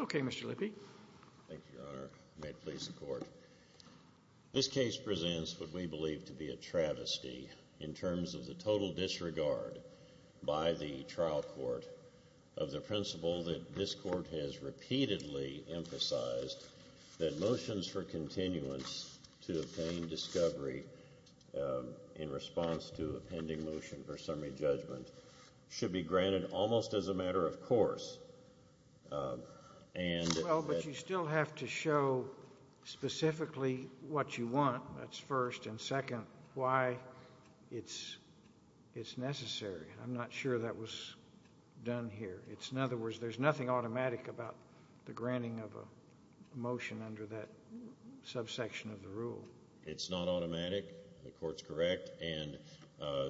Okay, Mr. Lippe. Thank you, Your Honor. May it please the Court. This case presents what we believe to be a travesty in terms of the total disregard by the trial court of the principle that this Court has repeatedly emphasized that motions for continuance to obtained discovery in response to a pending motion for summary judgment should be granted almost as a matter of course. Well, but you still have to show specifically what you want. That's first, and second, why it's necessary. I'm not sure that was done here. In other words, there's nothing automatic about the granting of a motion under that subsection of the rule. It's not automatic. The Court's correct. And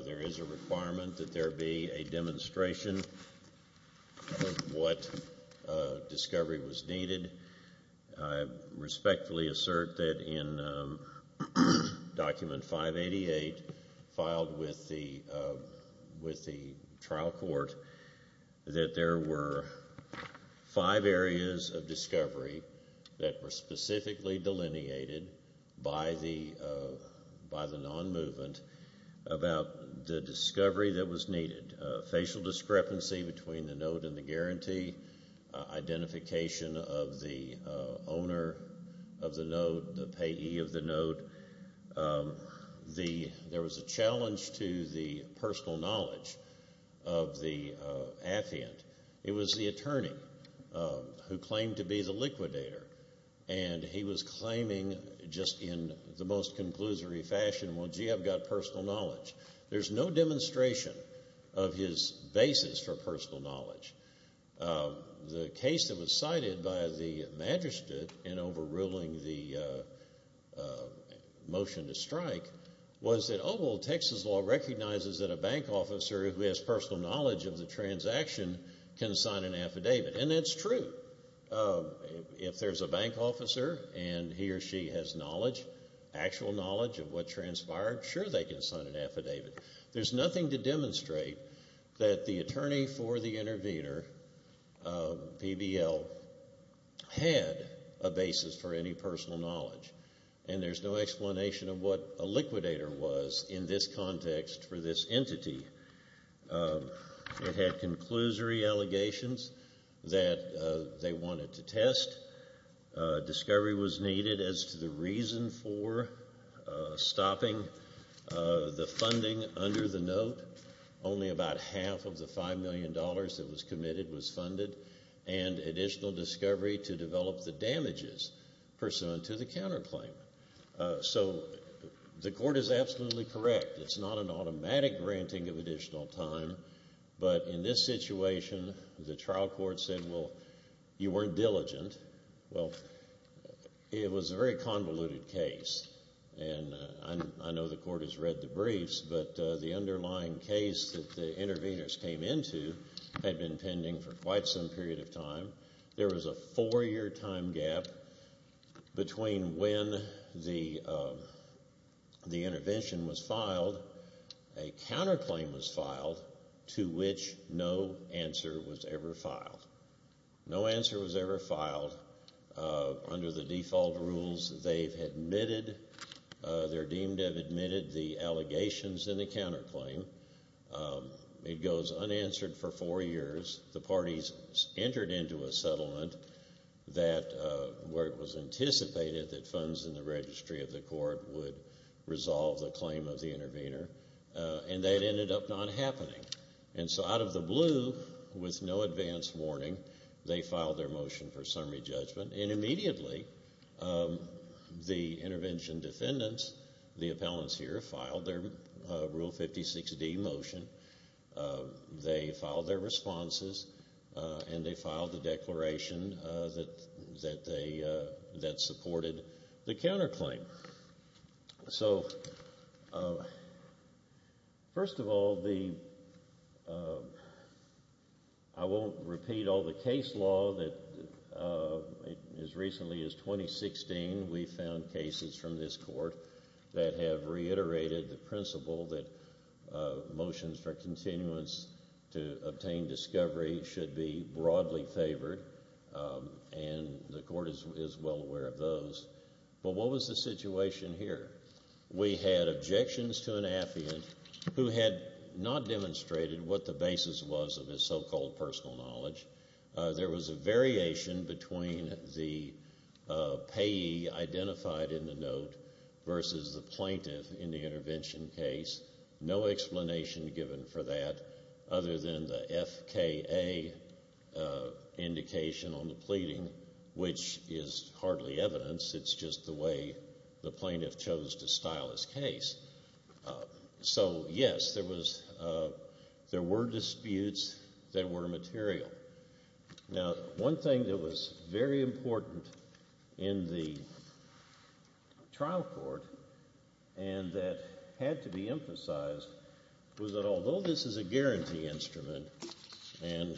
there is a requirement that there be a demonstration of what discovery was needed. I respectfully assert that in Document 588 filed with the trial court that there were five areas of discovery that were specifically delineated by the non-movement about the discovery that was needed. Facial discrepancy between the note and the guarantee, identification of the owner of the note, the payee of the note. There was a challenge to the personal knowledge of the affiant. It was the attorney who claimed to be the liquidator, and he was claiming just in the most conclusory fashion, well, gee, I've got personal knowledge. There's no demonstration of his basis for personal knowledge. The case that was cited by the magistrate in overruling the motion to strike was that, oh, well, Texas law recognizes that a bank officer who has personal knowledge of the transaction can sign an affidavit. And that's true. If there's a bank officer and he or she has knowledge, actual knowledge of what transpired, sure, they can sign an affidavit. There's nothing to demonstrate that the attorney for the intervener, PBL, had a basis for any personal knowledge. And there's no explanation of what a liquidator was in this context for this entity. It had conclusory allegations that they wanted to test. Discovery was needed as to the reason for stopping the funding under the note. Only about half of the $5 million that was committed was funded, and additional discovery to develop the damages pursuant to the counterclaim. So the court is absolutely correct. It's not an automatic granting of additional time. But in this situation, the trial court said, well, you weren't diligent. Well, it was a very convoluted case, and I know the court has read the briefs, but the underlying case that the interveners came into had been pending for quite some period of time. There was a four-year time gap between when the intervention was filed, a counterclaim was filed, to which no answer was ever filed. No answer was ever filed. Under the default rules, they're deemed to have admitted the allegations in the counterclaim. It goes unanswered for four years. The parties entered into a settlement where it was anticipated that funds in the registry of the court would resolve the claim of the intervener, and that ended up not happening. And so out of the blue, with no advance warning, they filed their motion for summary judgment, and immediately the intervention defendants, the appellants here, filed their Rule 56D motion. They filed their responses, and they filed the declaration that supported the counterclaim. So first of all, I won't repeat all the case law that as recently as 2016, we found cases from this court that have reiterated the principle that motions for continuance to obtain discovery should be broadly favored, and the court is well aware of those. But what was the situation here? We had objections to an affidavit who had not demonstrated what the basis was of his so-called personal knowledge. There was a variation between the payee identified in the note versus the plaintiff in the intervention case. No explanation given for that other than the FKA indication on the pleading, which is hardly evidence. It's just the way the plaintiff chose to style his case. So, yes, there were disputes that were material. Now, one thing that was very important in the trial court and that had to be emphasized was that although this is a guarantee instrument, and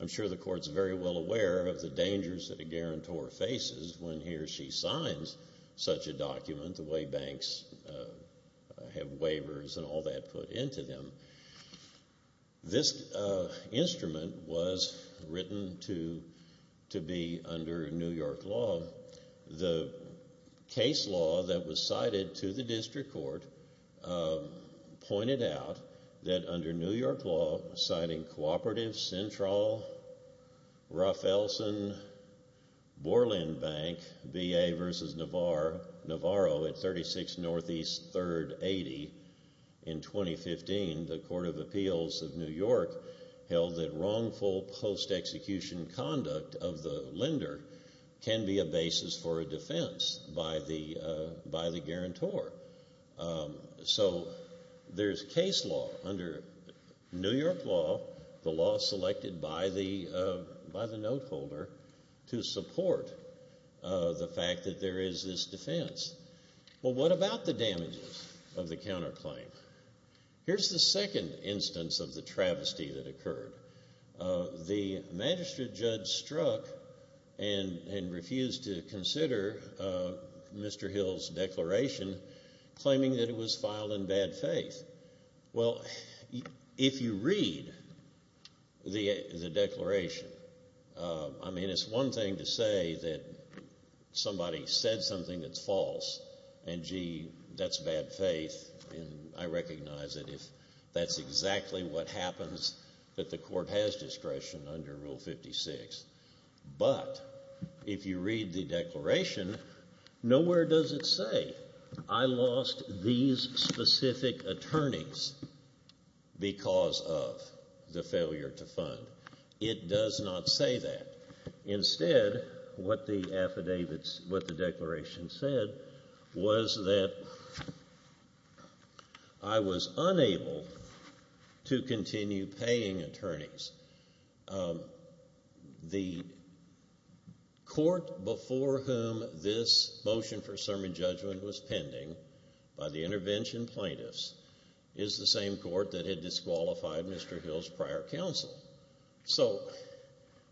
I'm sure the court's very well aware of the dangers that a guarantor faces when he or she signs such a document, the way banks have waivers and all that put into them, this instrument was written to be under New York law. The case law that was cited to the district court pointed out that under New York law, citing Cooperative Central, Ruff-Elson, Borland Bank, BA versus Navarro at 36 Northeast 3rd 80, in 2015 the Court of Appeals of New York held that wrongful post-execution conduct of the lender can be a basis for a defense by the guarantor. So there's case law under New York law, the law selected by the note holder, to support the fact that there is this defense. Well, what about the damages of the counterclaim? Here's the second instance of the travesty that occurred. The magistrate judge struck and refused to consider Mr. Hill's declaration, claiming that it was filed in bad faith. Well, if you read the declaration, I mean, it's one thing to say that somebody said something that's false and, gee, that's bad faith, and I recognize that if that's exactly what happens, that the court has discretion under Rule 56. But if you read the declaration, nowhere does it say, I lost these specific attorneys because of the failure to fund. It does not say that. Instead, what the declaration said was that I was unable to continue paying attorneys. The court before whom this motion for sermon judgment was pending by the intervention plaintiffs is the same court that had disqualified Mr. Hill's prior counsel. So,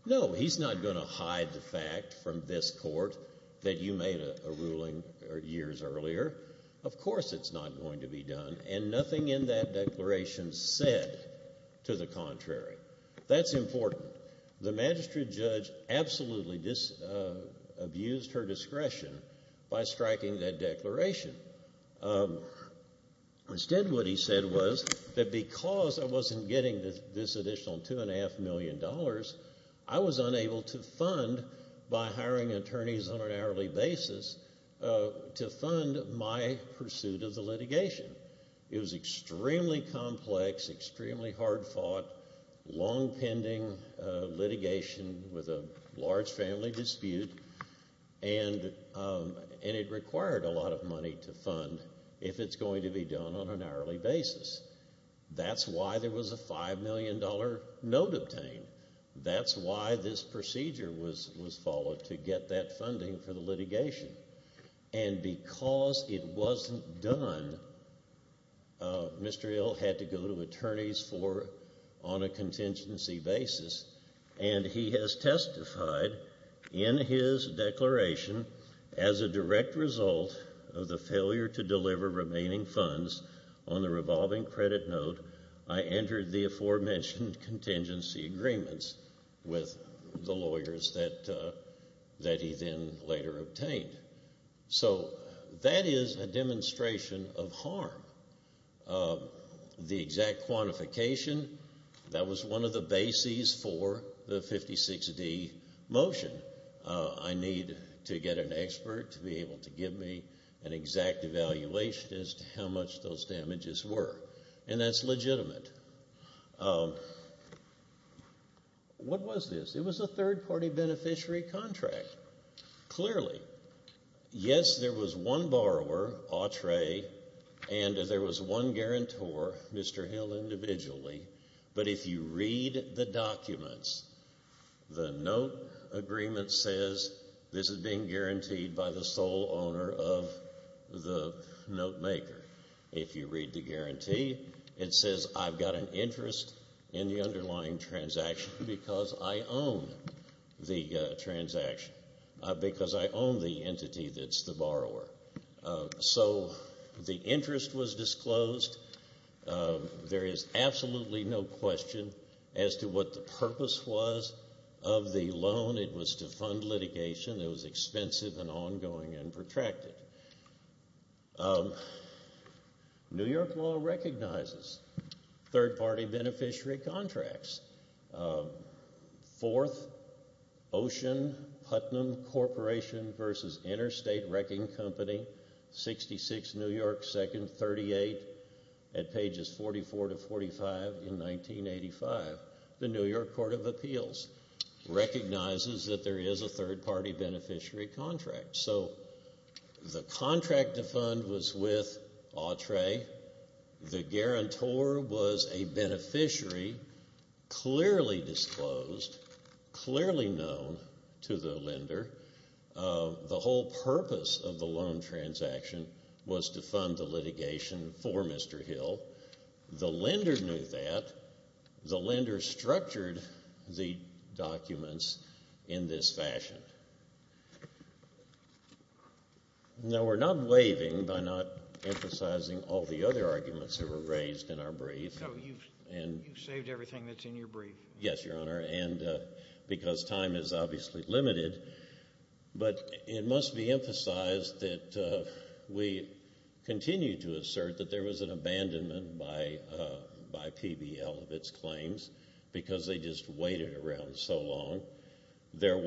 no, he's not going to hide the fact from this court that you made a ruling years earlier. Of course it's not going to be done, and nothing in that declaration said to the contrary. That's important. The magistrate judge absolutely abused her discretion by striking that declaration. Instead, what he said was that because I wasn't getting this additional $2.5 million, I was unable to fund by hiring attorneys on an hourly basis to fund my pursuit of the litigation. It was extremely complex, extremely hard-fought, long-pending litigation with a large family dispute, and it required a lot of money to fund if it's going to be done on an hourly basis. That's why there was a $5 million note obtained. That's why this procedure was followed to get that funding for the litigation. And because it wasn't done, Mr. Hill had to go to attorneys on a contingency basis, and he has testified in his declaration, as a direct result of the failure to deliver remaining funds on the revolving credit note, I entered the aforementioned contingency agreements with the lawyers that he then later obtained. So that is a demonstration of harm. The exact quantification, that was one of the bases for the 56D motion. I need to get an expert to be able to give me an exact evaluation as to how much those damages were, and that's legitimate. What was this? It was a third-party beneficiary contract, clearly. Yes, there was one borrower, Autre, and there was one guarantor, Mr. Hill individually, but if you read the documents, the note agreement says this is being guaranteed by the sole owner of the note maker. If you read the guarantee, it says I've got an interest in the underlying transaction because I own the transaction, because I own the entity that's the borrower. So the interest was disclosed. There is absolutely no question as to what the purpose was of the loan. It was to fund litigation that was expensive and ongoing and protracted. New York law recognizes third-party beneficiary contracts. Fourth, Ocean Putnam Corporation v. Interstate Wrecking Company, 66 New York 2nd 38 at pages 44 to 45 in 1985. The New York Court of Appeals recognizes that there is a third-party beneficiary contract. So the contract to fund was with Autre. The guarantor was a beneficiary, clearly disclosed, clearly known to the lender. The whole purpose of the loan transaction was to fund the litigation for Mr. Hill. The lender knew that. The lender structured the documents in this fashion. Now, we're not waiving by not emphasizing all the other arguments that were raised in our brief. So you've saved everything that's in your brief? Yes, Your Honor, because time is obviously limited. But it must be emphasized that we continue to assert that there was an abandonment by PBL of its claims because they just waited around so long. There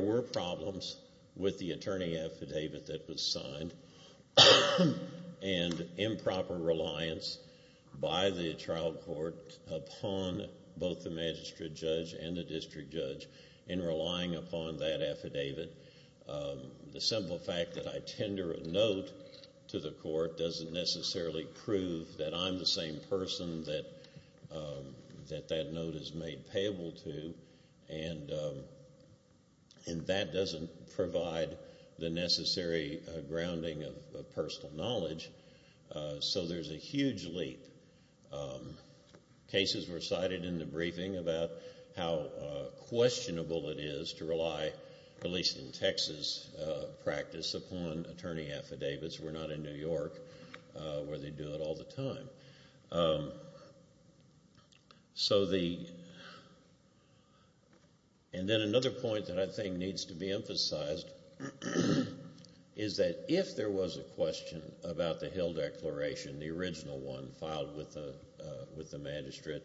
were problems with the attorney affidavit that was signed and improper reliance by the trial court upon both the magistrate judge and the district judge in relying upon that affidavit. The simple fact that I tender a note to the court doesn't necessarily prove that I'm the same person that that note is made payable to, and that doesn't provide the necessary grounding of personal knowledge. So there's a huge leap. Cases were cited in the briefing about how questionable it is to rely, at least in Texas practice, upon attorney affidavits. We're not in New York where they do it all the time. And then another point that I think needs to be emphasized is that if there was a question about the Hill Declaration, the original one filed with the magistrate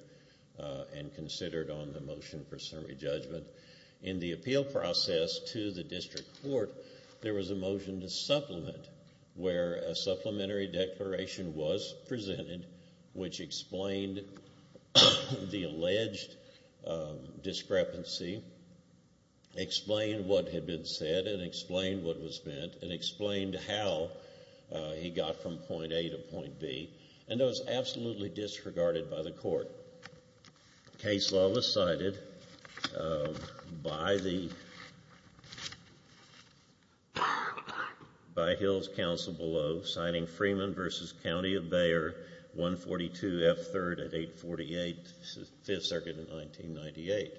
and considered on the motion for summary judgment, in the appeal process to the district court there was a motion to supplement where a supplementary declaration was presented which explained the alleged discrepancy, explained what had been said and explained what was meant and explained how he got from point A to point B, and that was absolutely disregarded by the court. Case law was cited by Hill's counsel below, citing Freeman v. County of Bayer, 142 F. 3rd at 848 Fifth Circuit in 1998.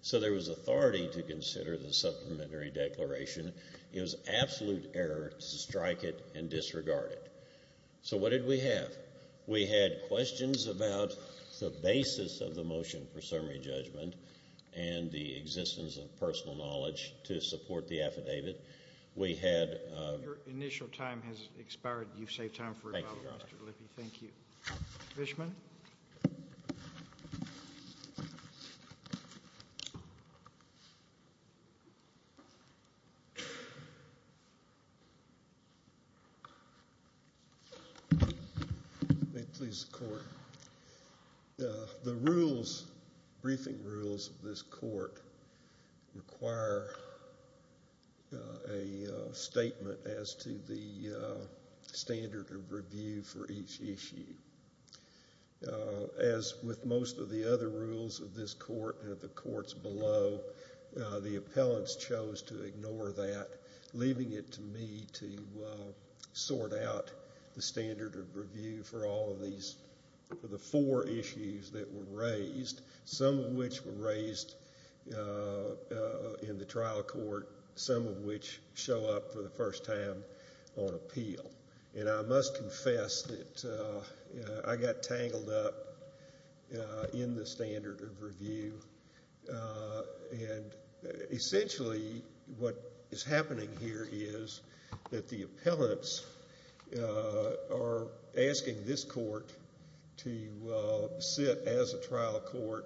So there was authority to consider the supplementary declaration. It was absolute error to strike it and disregard it. So what did we have? We had questions about the basis of the motion for summary judgment and the existence of personal knowledge to support the affidavit. We had— Your initial time has expired. You've saved time for rebuttal, Mr. Lippe. Thank you. Mr. Fishman. May it please the Court. The rules, briefing rules of this court require a statement as to the standard of review for each issue. As with most of the other rules of this court and of the courts below, the appellants chose to ignore that, leaving it to me to sort out the standard of review for all of these—for the four issues that were raised, some of which were raised in the trial court, some of which show up for the first time on appeal. And I must confess that I got tangled up in the standard of review. And essentially what is happening here is that the appellants are asking this court to sit as a trial court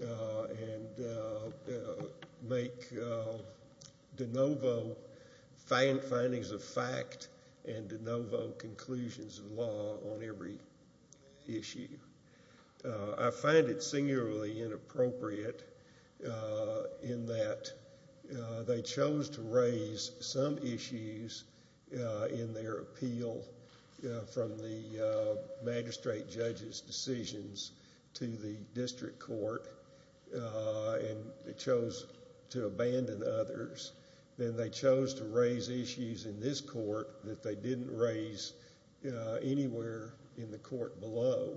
and make de novo findings of fact and de novo conclusions of law on every issue. I find it singularly inappropriate in that they chose to raise some issues in their appeal from the magistrate judge's decisions to the district court and they chose to abandon others. Then they chose to raise issues in this court that they didn't raise anywhere in the court below.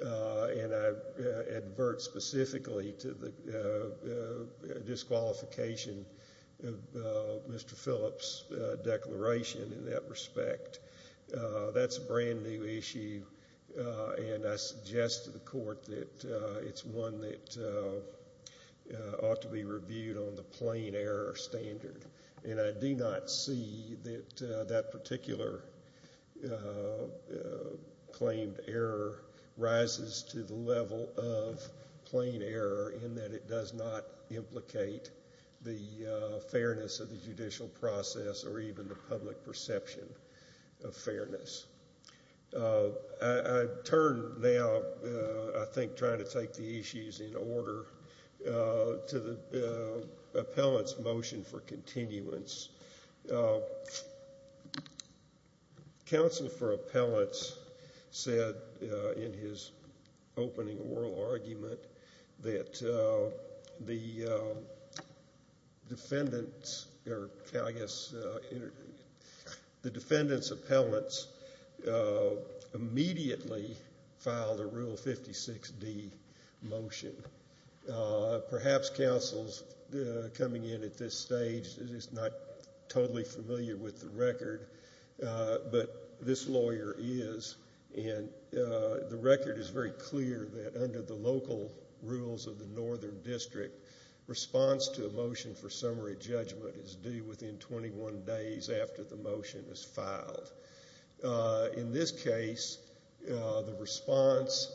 And I advert specifically to the disqualification of Mr. Phillips' declaration in that respect. That's a brand new issue, and I suggest to the court that it's one that ought to be reviewed on the plain error standard. And I do not see that that particular claimed error rises to the level of plain error in that it does not implicate the fairness of the judicial process or even the public perception of fairness. I turn now, I think, trying to take the issues in order, to the appellant's motion for continuance. Counsel for appellants said in his opening oral argument that the defendant's or I guess the defendant's appellants immediately filed a Rule 56D motion. Perhaps counsels coming in at this stage is not totally familiar with the record, but this lawyer is. And the record is very clear that under the local rules of the Northern District, response to a motion for summary judgment is due within 21 days after the motion is filed. In this case, the response,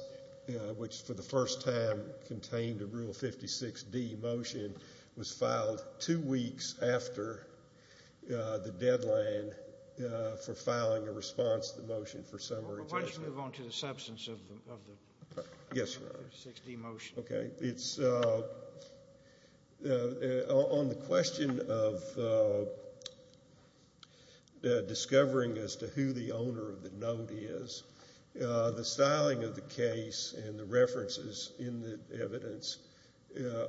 which for the first time contained a Rule 56D motion, was filed two weeks after the deadline for filing a response to the motion for summary judgment. Why don't you move on to the substance of the Rule 56D motion. Okay. It's on the question of discovering as to who the owner of the note is. The styling of the case and the references in the evidence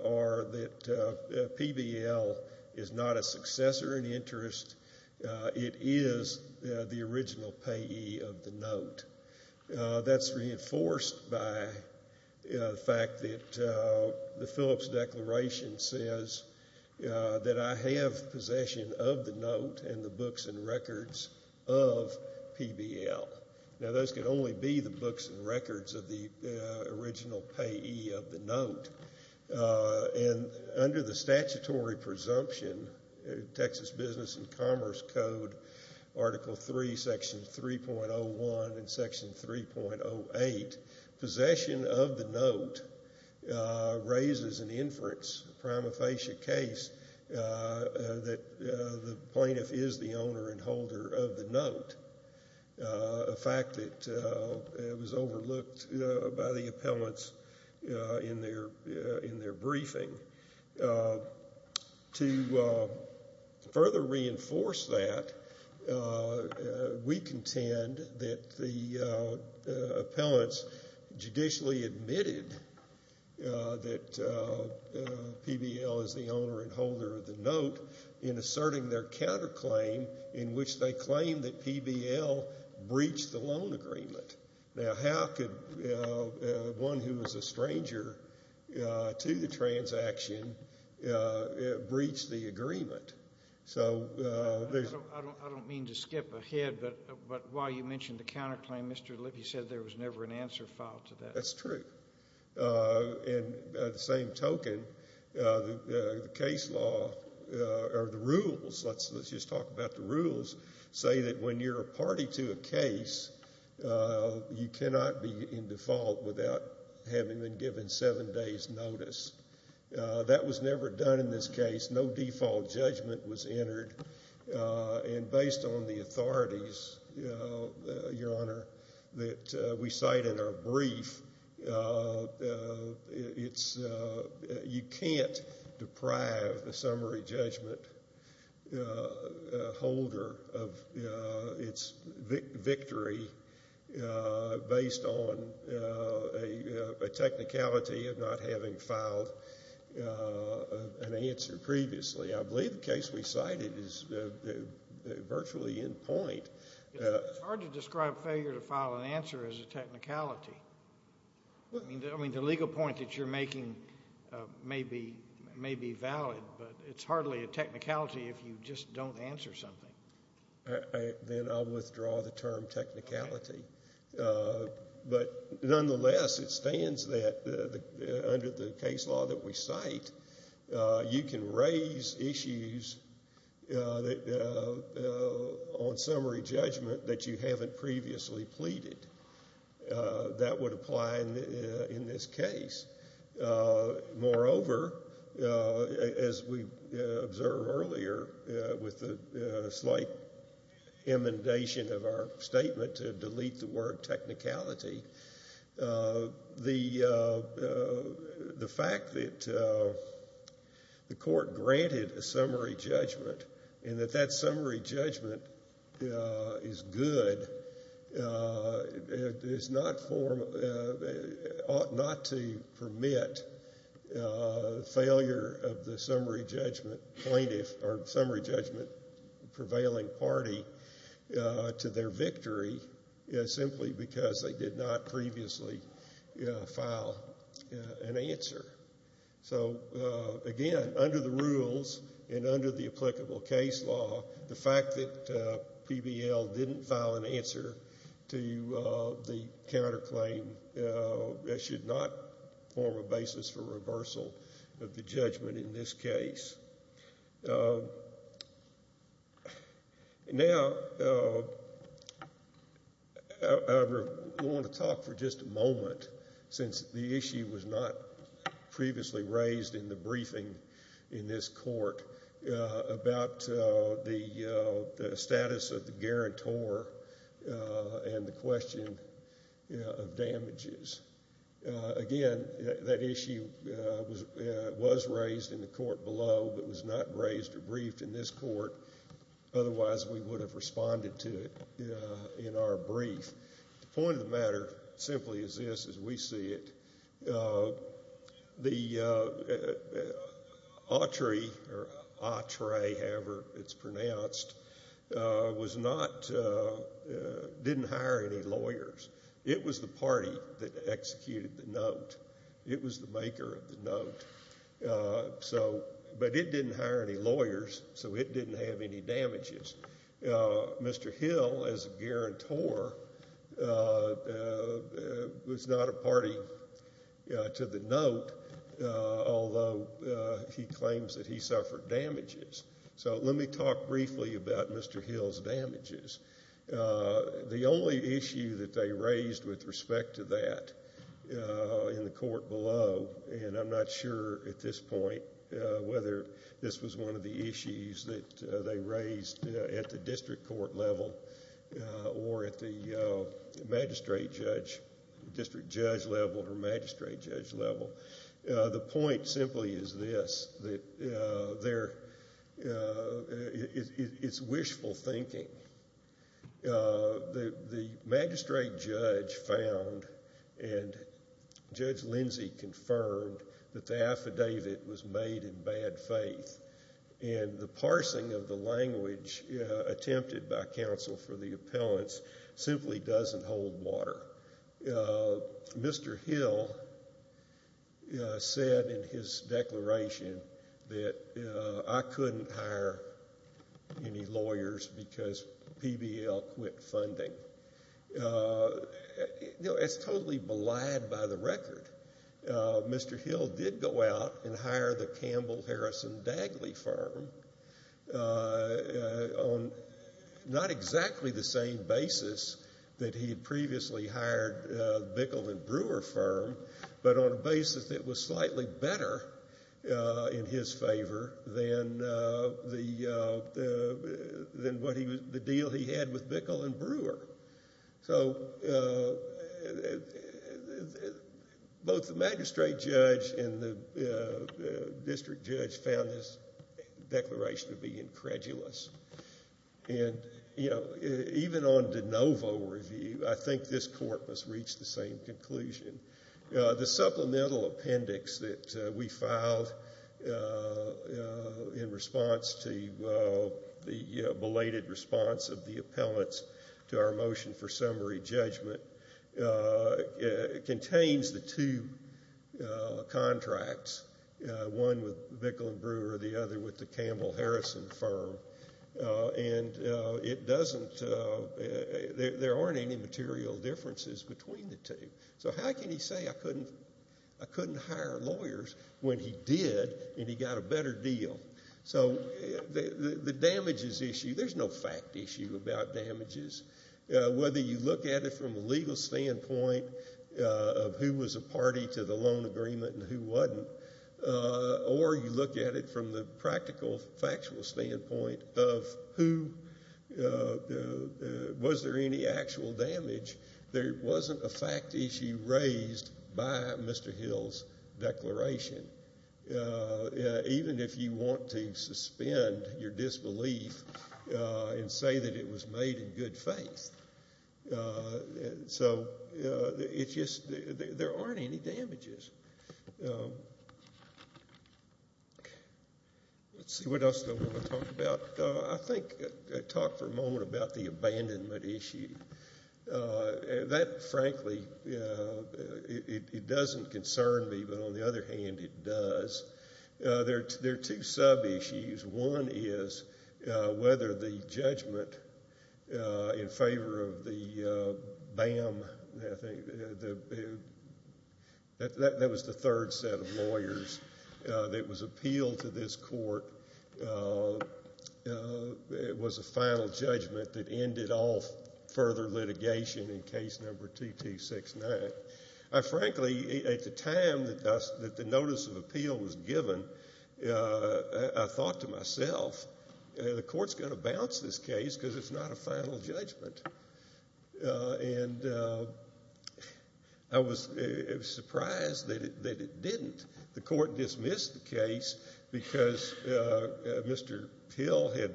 are that PBL is not a successor in interest. It is the original payee of the note. That's reinforced by the fact that the Phillips Declaration says that I have possession of the note and the books and records of PBL. Now, those can only be the books and records of the original payee of the note. And under the statutory presumption, Texas Business and Commerce Code, Article 3, Section 3.01 and Section 3.08, possession of the note raises an inference, a prima facie case, that the plaintiff is the owner and holder of the note. A fact that was overlooked by the appellants in their briefing. To further reinforce that, we contend that the appellants judicially admitted that PBL is the owner and holder of the note in asserting their counterclaim in which they claim that PBL breached the loan agreement. Now, how could one who was a stranger to the transaction breach the agreement? I don't mean to skip ahead, but while you mentioned the counterclaim, Mr. Lippy said there was never an answer filed to that. That's true. And at the same token, the case law or the rules, let's just talk about the rules, say that when you're a party to a case, you cannot be in default without having been given seven days' notice. That was never done in this case. No default judgment was entered. And based on the authorities, Your Honor, that we cite in our brief, you can't deprive the summary judgment holder of its victory based on a technicality of not having filed an answer previously. I believe the case we cited is virtually in point. It's hard to describe failure to file an answer as a technicality. I mean, the legal point that you're making may be valid, but it's hardly a technicality if you just don't answer something. Then I'll withdraw the term technicality. But nonetheless, it stands that under the case law that we cite, you can raise issues on summary judgment that you haven't previously pleaded. That would apply in this case. Moreover, as we observed earlier with the slight inundation of our statement to delete the word technicality, the fact that the court granted a summary judgment and that that summary judgment is good, it ought not to permit failure of the summary judgment plaintiff or summary judgment prevailing party to their victory simply because they did not previously file an answer. So, again, under the rules and under the applicable case law, the fact that PBL didn't file an answer to the counterclaim should not form a basis for reversal of the judgment in this case. Now, I want to talk for just a moment, since the issue was not previously raised in the briefing in this court, about the status of the guarantor and the question of damages. Again, that issue was raised in the court below but was not raised or briefed in this court. Otherwise, we would have responded to it in our brief. The point of the matter simply is this, as we see it. The Autry, or Autre, however it's pronounced, was not, didn't hire any lawyers. It was the party that executed the note. It was the maker of the note. So, but it didn't hire any lawyers, so it didn't have any damages. Mr. Hill, as a guarantor, was not a party to the note, although he claims that he suffered damages. So let me talk briefly about Mr. Hill's damages. The only issue that they raised with respect to that in the court below, and I'm not sure at this point whether this was one of the issues that they raised at the district court level or at the magistrate judge, district judge level or magistrate judge level. The point simply is this, that there, it's wishful thinking. The magistrate judge found and Judge Lindsey confirmed that the affidavit was made in bad faith and the parsing of the language attempted by counsel for the appellants simply doesn't hold water. Mr. Hill said in his declaration that I couldn't hire any lawyers because PBL quit funding. You know, it's totally belied by the record. Mr. Hill did go out and hire the Campbell Harrison Dagley firm on not exactly the same basis that he had previously hired Bickel and Brewer firm, but on a basis that was slightly better in his favor than the deal he had with Bickel and Brewer. So both the magistrate judge and the district judge found this declaration to be incredulous. And even on de novo review, I think this court must reach the same conclusion. The supplemental appendix that we filed in response to the belated response of the appellants to our motion for summary judgment contains the two contracts, one with Bickel and Brewer, the other with the Campbell Harrison firm. And it doesn't, there aren't any material differences between the two. So how can he say I couldn't hire lawyers when he did and he got a better deal? So the damages issue, there's no fact issue about damages. Whether you look at it from a legal standpoint of who was a party to the loan agreement and who wasn't, or you look at it from the practical, factual standpoint of who, was there any actual damage, there wasn't a fact issue raised by Mr. Hill's declaration. Even if you want to suspend your disbelief and say that it was made in good faith. So it's just, there aren't any damages. Let's see, what else do I want to talk about? I think I talked for a moment about the abandonment issue. That, frankly, it doesn't concern me, but on the other hand it does. There are two sub-issues. One is whether the judgment in favor of the BAM, that was the third set of lawyers that was appealed to this court, was a final judgment that ended off further litigation in case number 2269. I frankly, at the time that the notice of appeal was given, I thought to myself, the court's going to bounce this case because it's not a final judgment. And I was surprised that it didn't. The court dismissed the case because Mr. Hill had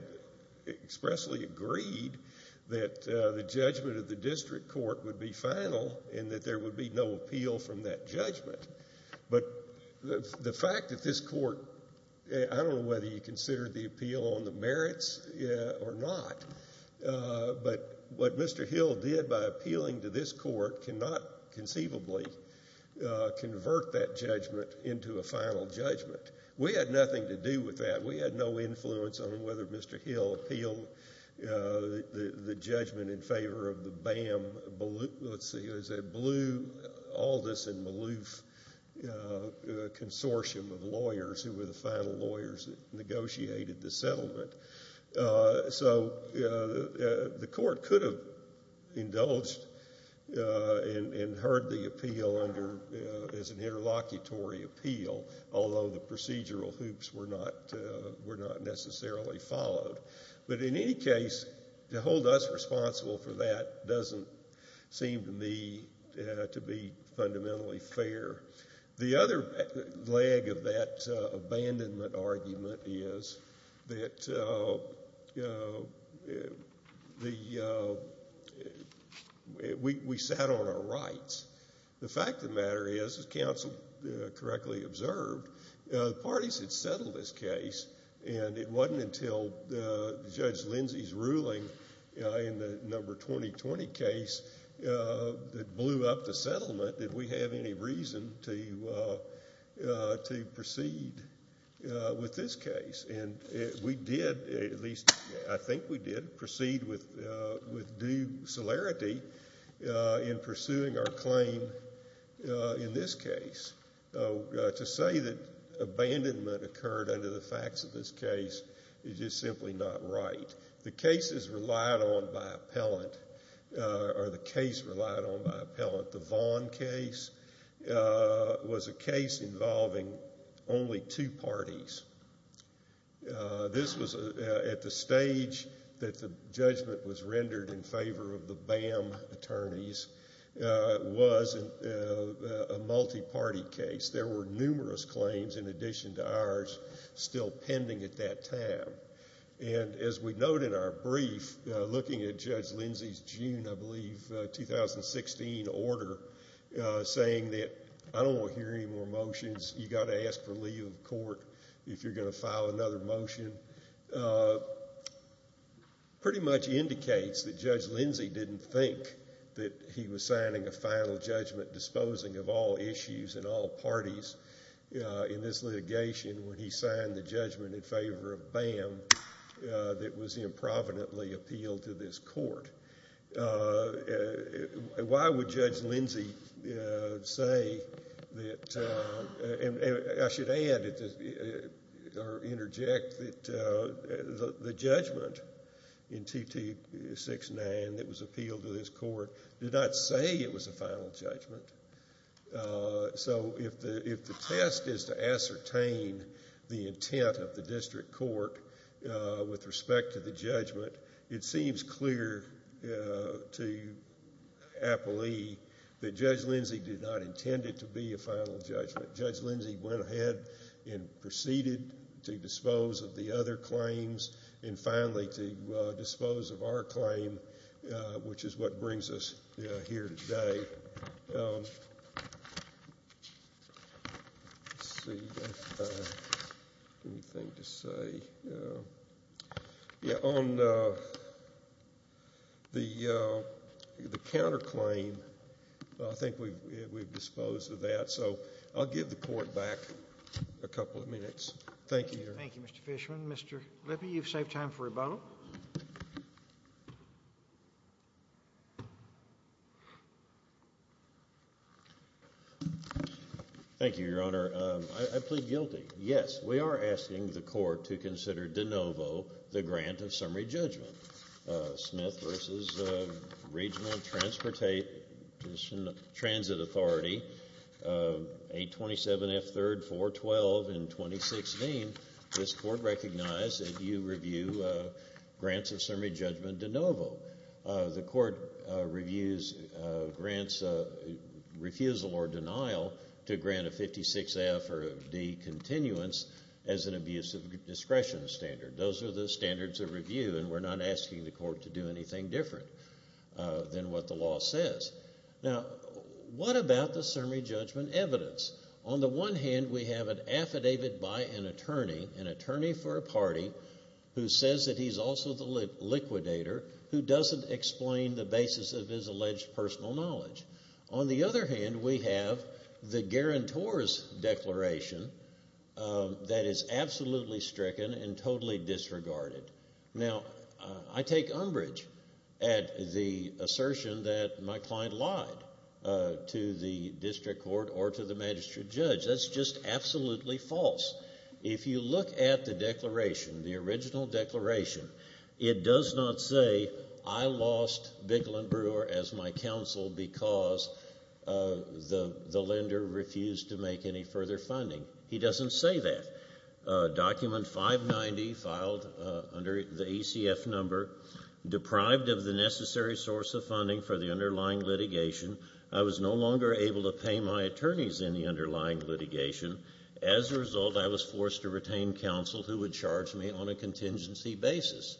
expressly agreed that the judgment of the district court would be final and that there would be no appeal from that judgment. But the fact that this court, I don't know whether you consider the appeal on the merits or not, but what Mr. Hill did by appealing to this court cannot conceivably convert that judgment into a final judgment. We had nothing to do with that. We had no influence on whether Mr. Hill appealed the judgment in favor of the BAM. Let's see, it was a blue Aldous and Maloof consortium of lawyers who were the final lawyers that negotiated the settlement. So the court could have indulged and heard the appeal as an interlocutory appeal, although the procedural hoops were not necessarily followed. But in any case, to hold us responsible for that doesn't seem to me to be fundamentally fair. The other leg of that abandonment argument is that we sat on our rights. The fact of the matter is, as counsel correctly observed, the parties had settled this case, and it wasn't until Judge Lindsey's ruling in the number 2020 case that blew up the settlement that we have any reason to proceed with this case. And we did, at least I think we did, proceed with due celerity in pursuing our claim in this case. To say that abandonment occurred under the facts of this case is just simply not right. The cases relied on by appellant, or the case relied on by appellant, the Vaughn case, was a case involving only two parties. This was at the stage that the judgment was rendered in favor of the BAM attorneys. It was a multi-party case. There were numerous claims in addition to ours still pending at that time. And as we note in our brief, looking at Judge Lindsey's June, I believe, 2016 order, saying that I don't want to hear any more motions, you've got to ask for leave of court if you're going to file another motion, pretty much indicates that Judge Lindsey didn't think that he was signing a final judgment disposing of all issues and all parties in this litigation when he signed the judgment in favor of BAM that was improvidently appealed to this court. Why would Judge Lindsey say that, and I should add or interject that the judgment in 2269 that was appealed to this court did not say it was a final judgment. So if the test is to ascertain the intent of the district court with respect to the judgment, it seems clear to appellee that Judge Lindsey did not intend it to be a final judgment. Judge Lindsey went ahead and proceeded to dispose of the other claims and finally to dispose of our claim, which is what brings us here today. On the counterclaim, I think we've disposed of that, so I'll give the court back a couple of minutes. Thank you. Thank you, Mr. Fishman. Mr. Lippe, you've saved time for rebuttal. Thank you, Your Honor. I plead guilty. Yes, we are asking the court to consider de novo the grant of summary judgment. Smith v. Regional Transportation Authority, 827F 3rd 412 in 2016, this court recognized that you review grants of summary judgment de novo. The court reviews grants of refusal or denial to grant a 56F or D continuance as an abuse of discretion standard. Those are the standards of review, and we're not asking the court to do anything different than what the law says. Now, what about the summary judgment evidence? On the one hand, we have an affidavit by an attorney, an attorney for a party, who says that he's also the liquidator who doesn't explain the basis of his alleged personal knowledge. On the other hand, we have the guarantor's declaration that is absolutely stricken and totally disregarded. Now, I take umbrage at the assertion that my client lied to the district court or to the magistrate judge. That's just absolutely false. If you look at the declaration, the original declaration, it does not say, I lost Bicklin Brewer as my counsel because the lender refused to make any further funding. He doesn't say that. Document 590 filed under the ECF number, deprived of the necessary source of funding for the underlying litigation. I was no longer able to pay my attorneys in the underlying litigation. As a result, I was forced to retain counsel who would charge me on a contingency basis.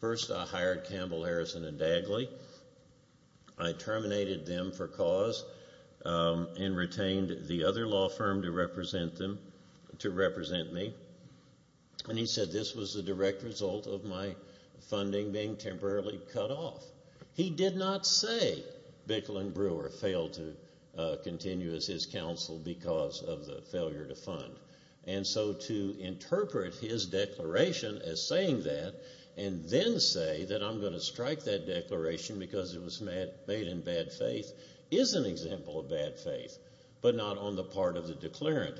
First, I hired Campbell, Harrison, and Dagley. I terminated them for cause and retained the other law firm to represent me. And he said this was the direct result of my funding being temporarily cut off. He did not say Bicklin Brewer failed to continue as his counsel because of the failure to fund. And so to interpret his declaration as saying that and then say that I'm going to strike that declaration because it was made in bad faith is an example of bad faith, but not on the part of the declarant.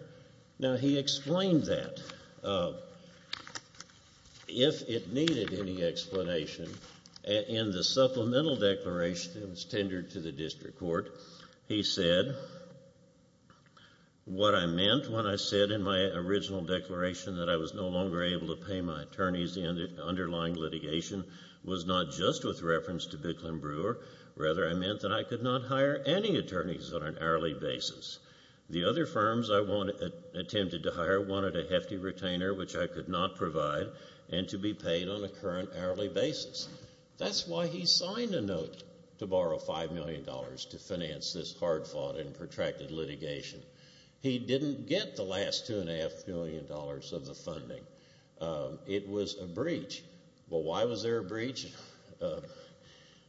Now, he explained that. If it needed any explanation, in the supplemental declaration that was tendered to the district court, he said what I meant when I said in my original declaration that I was no longer able to pay my attorneys in the underlying litigation was not just with reference to Bicklin Brewer. Rather, I meant that I could not hire any attorneys on an hourly basis. The other firms I attempted to hire wanted a hefty retainer, which I could not provide, and to be paid on a current hourly basis. That's why he signed a note to borrow $5 million to finance this hard-fought and protracted litigation. He didn't get the last $2.5 million of the funding. It was a breach. Well, why was there a breach?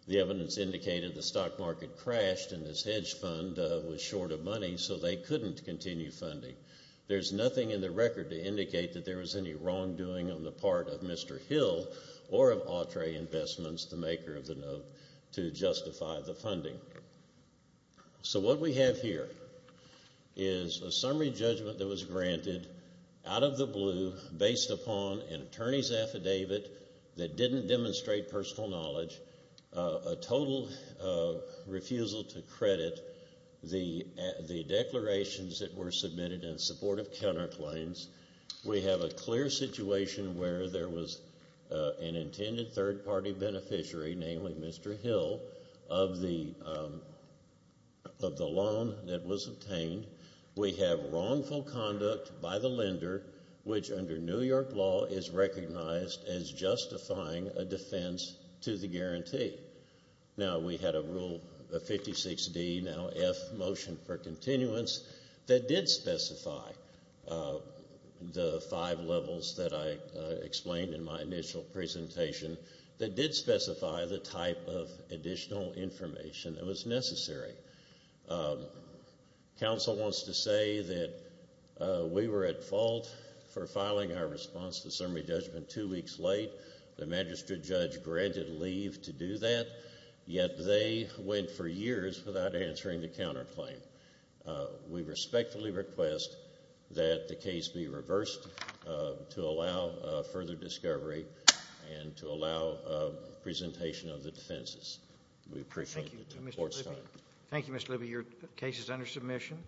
The evidence indicated the stock market crashed and this hedge fund was short of money, so they couldn't continue funding. There's nothing in the record to indicate that there was any wrongdoing on the part of Mr. Hill or of Autre Investments, the maker of the note, to justify the funding. So what we have here is a summary judgment that was granted out of the blue based upon an attorney's affidavit that didn't demonstrate personal knowledge, a total refusal to credit, the declarations that were submitted in support of counterclaims. We have a clear situation where there was an intended third-party beneficiary, namely Mr. Hill, of the loan that was obtained. We have wrongful conduct by the lender, which under New York law, is recognized as justifying a defense to the guarantee. Now, we had a Rule 56D, now F motion for continuance, that did specify the five levels that I explained in my initial presentation, that did specify the type of additional information that was necessary. Counsel wants to say that we were at fault for filing our response to the summary judgment two weeks late. The magistrate judge granted leave to do that, yet they went for years without answering the counterclaim. We respectfully request that the case be reversed to allow further discovery and to allow presentation of the defenses. Thank you, Mr. Libby. Your case is under submission.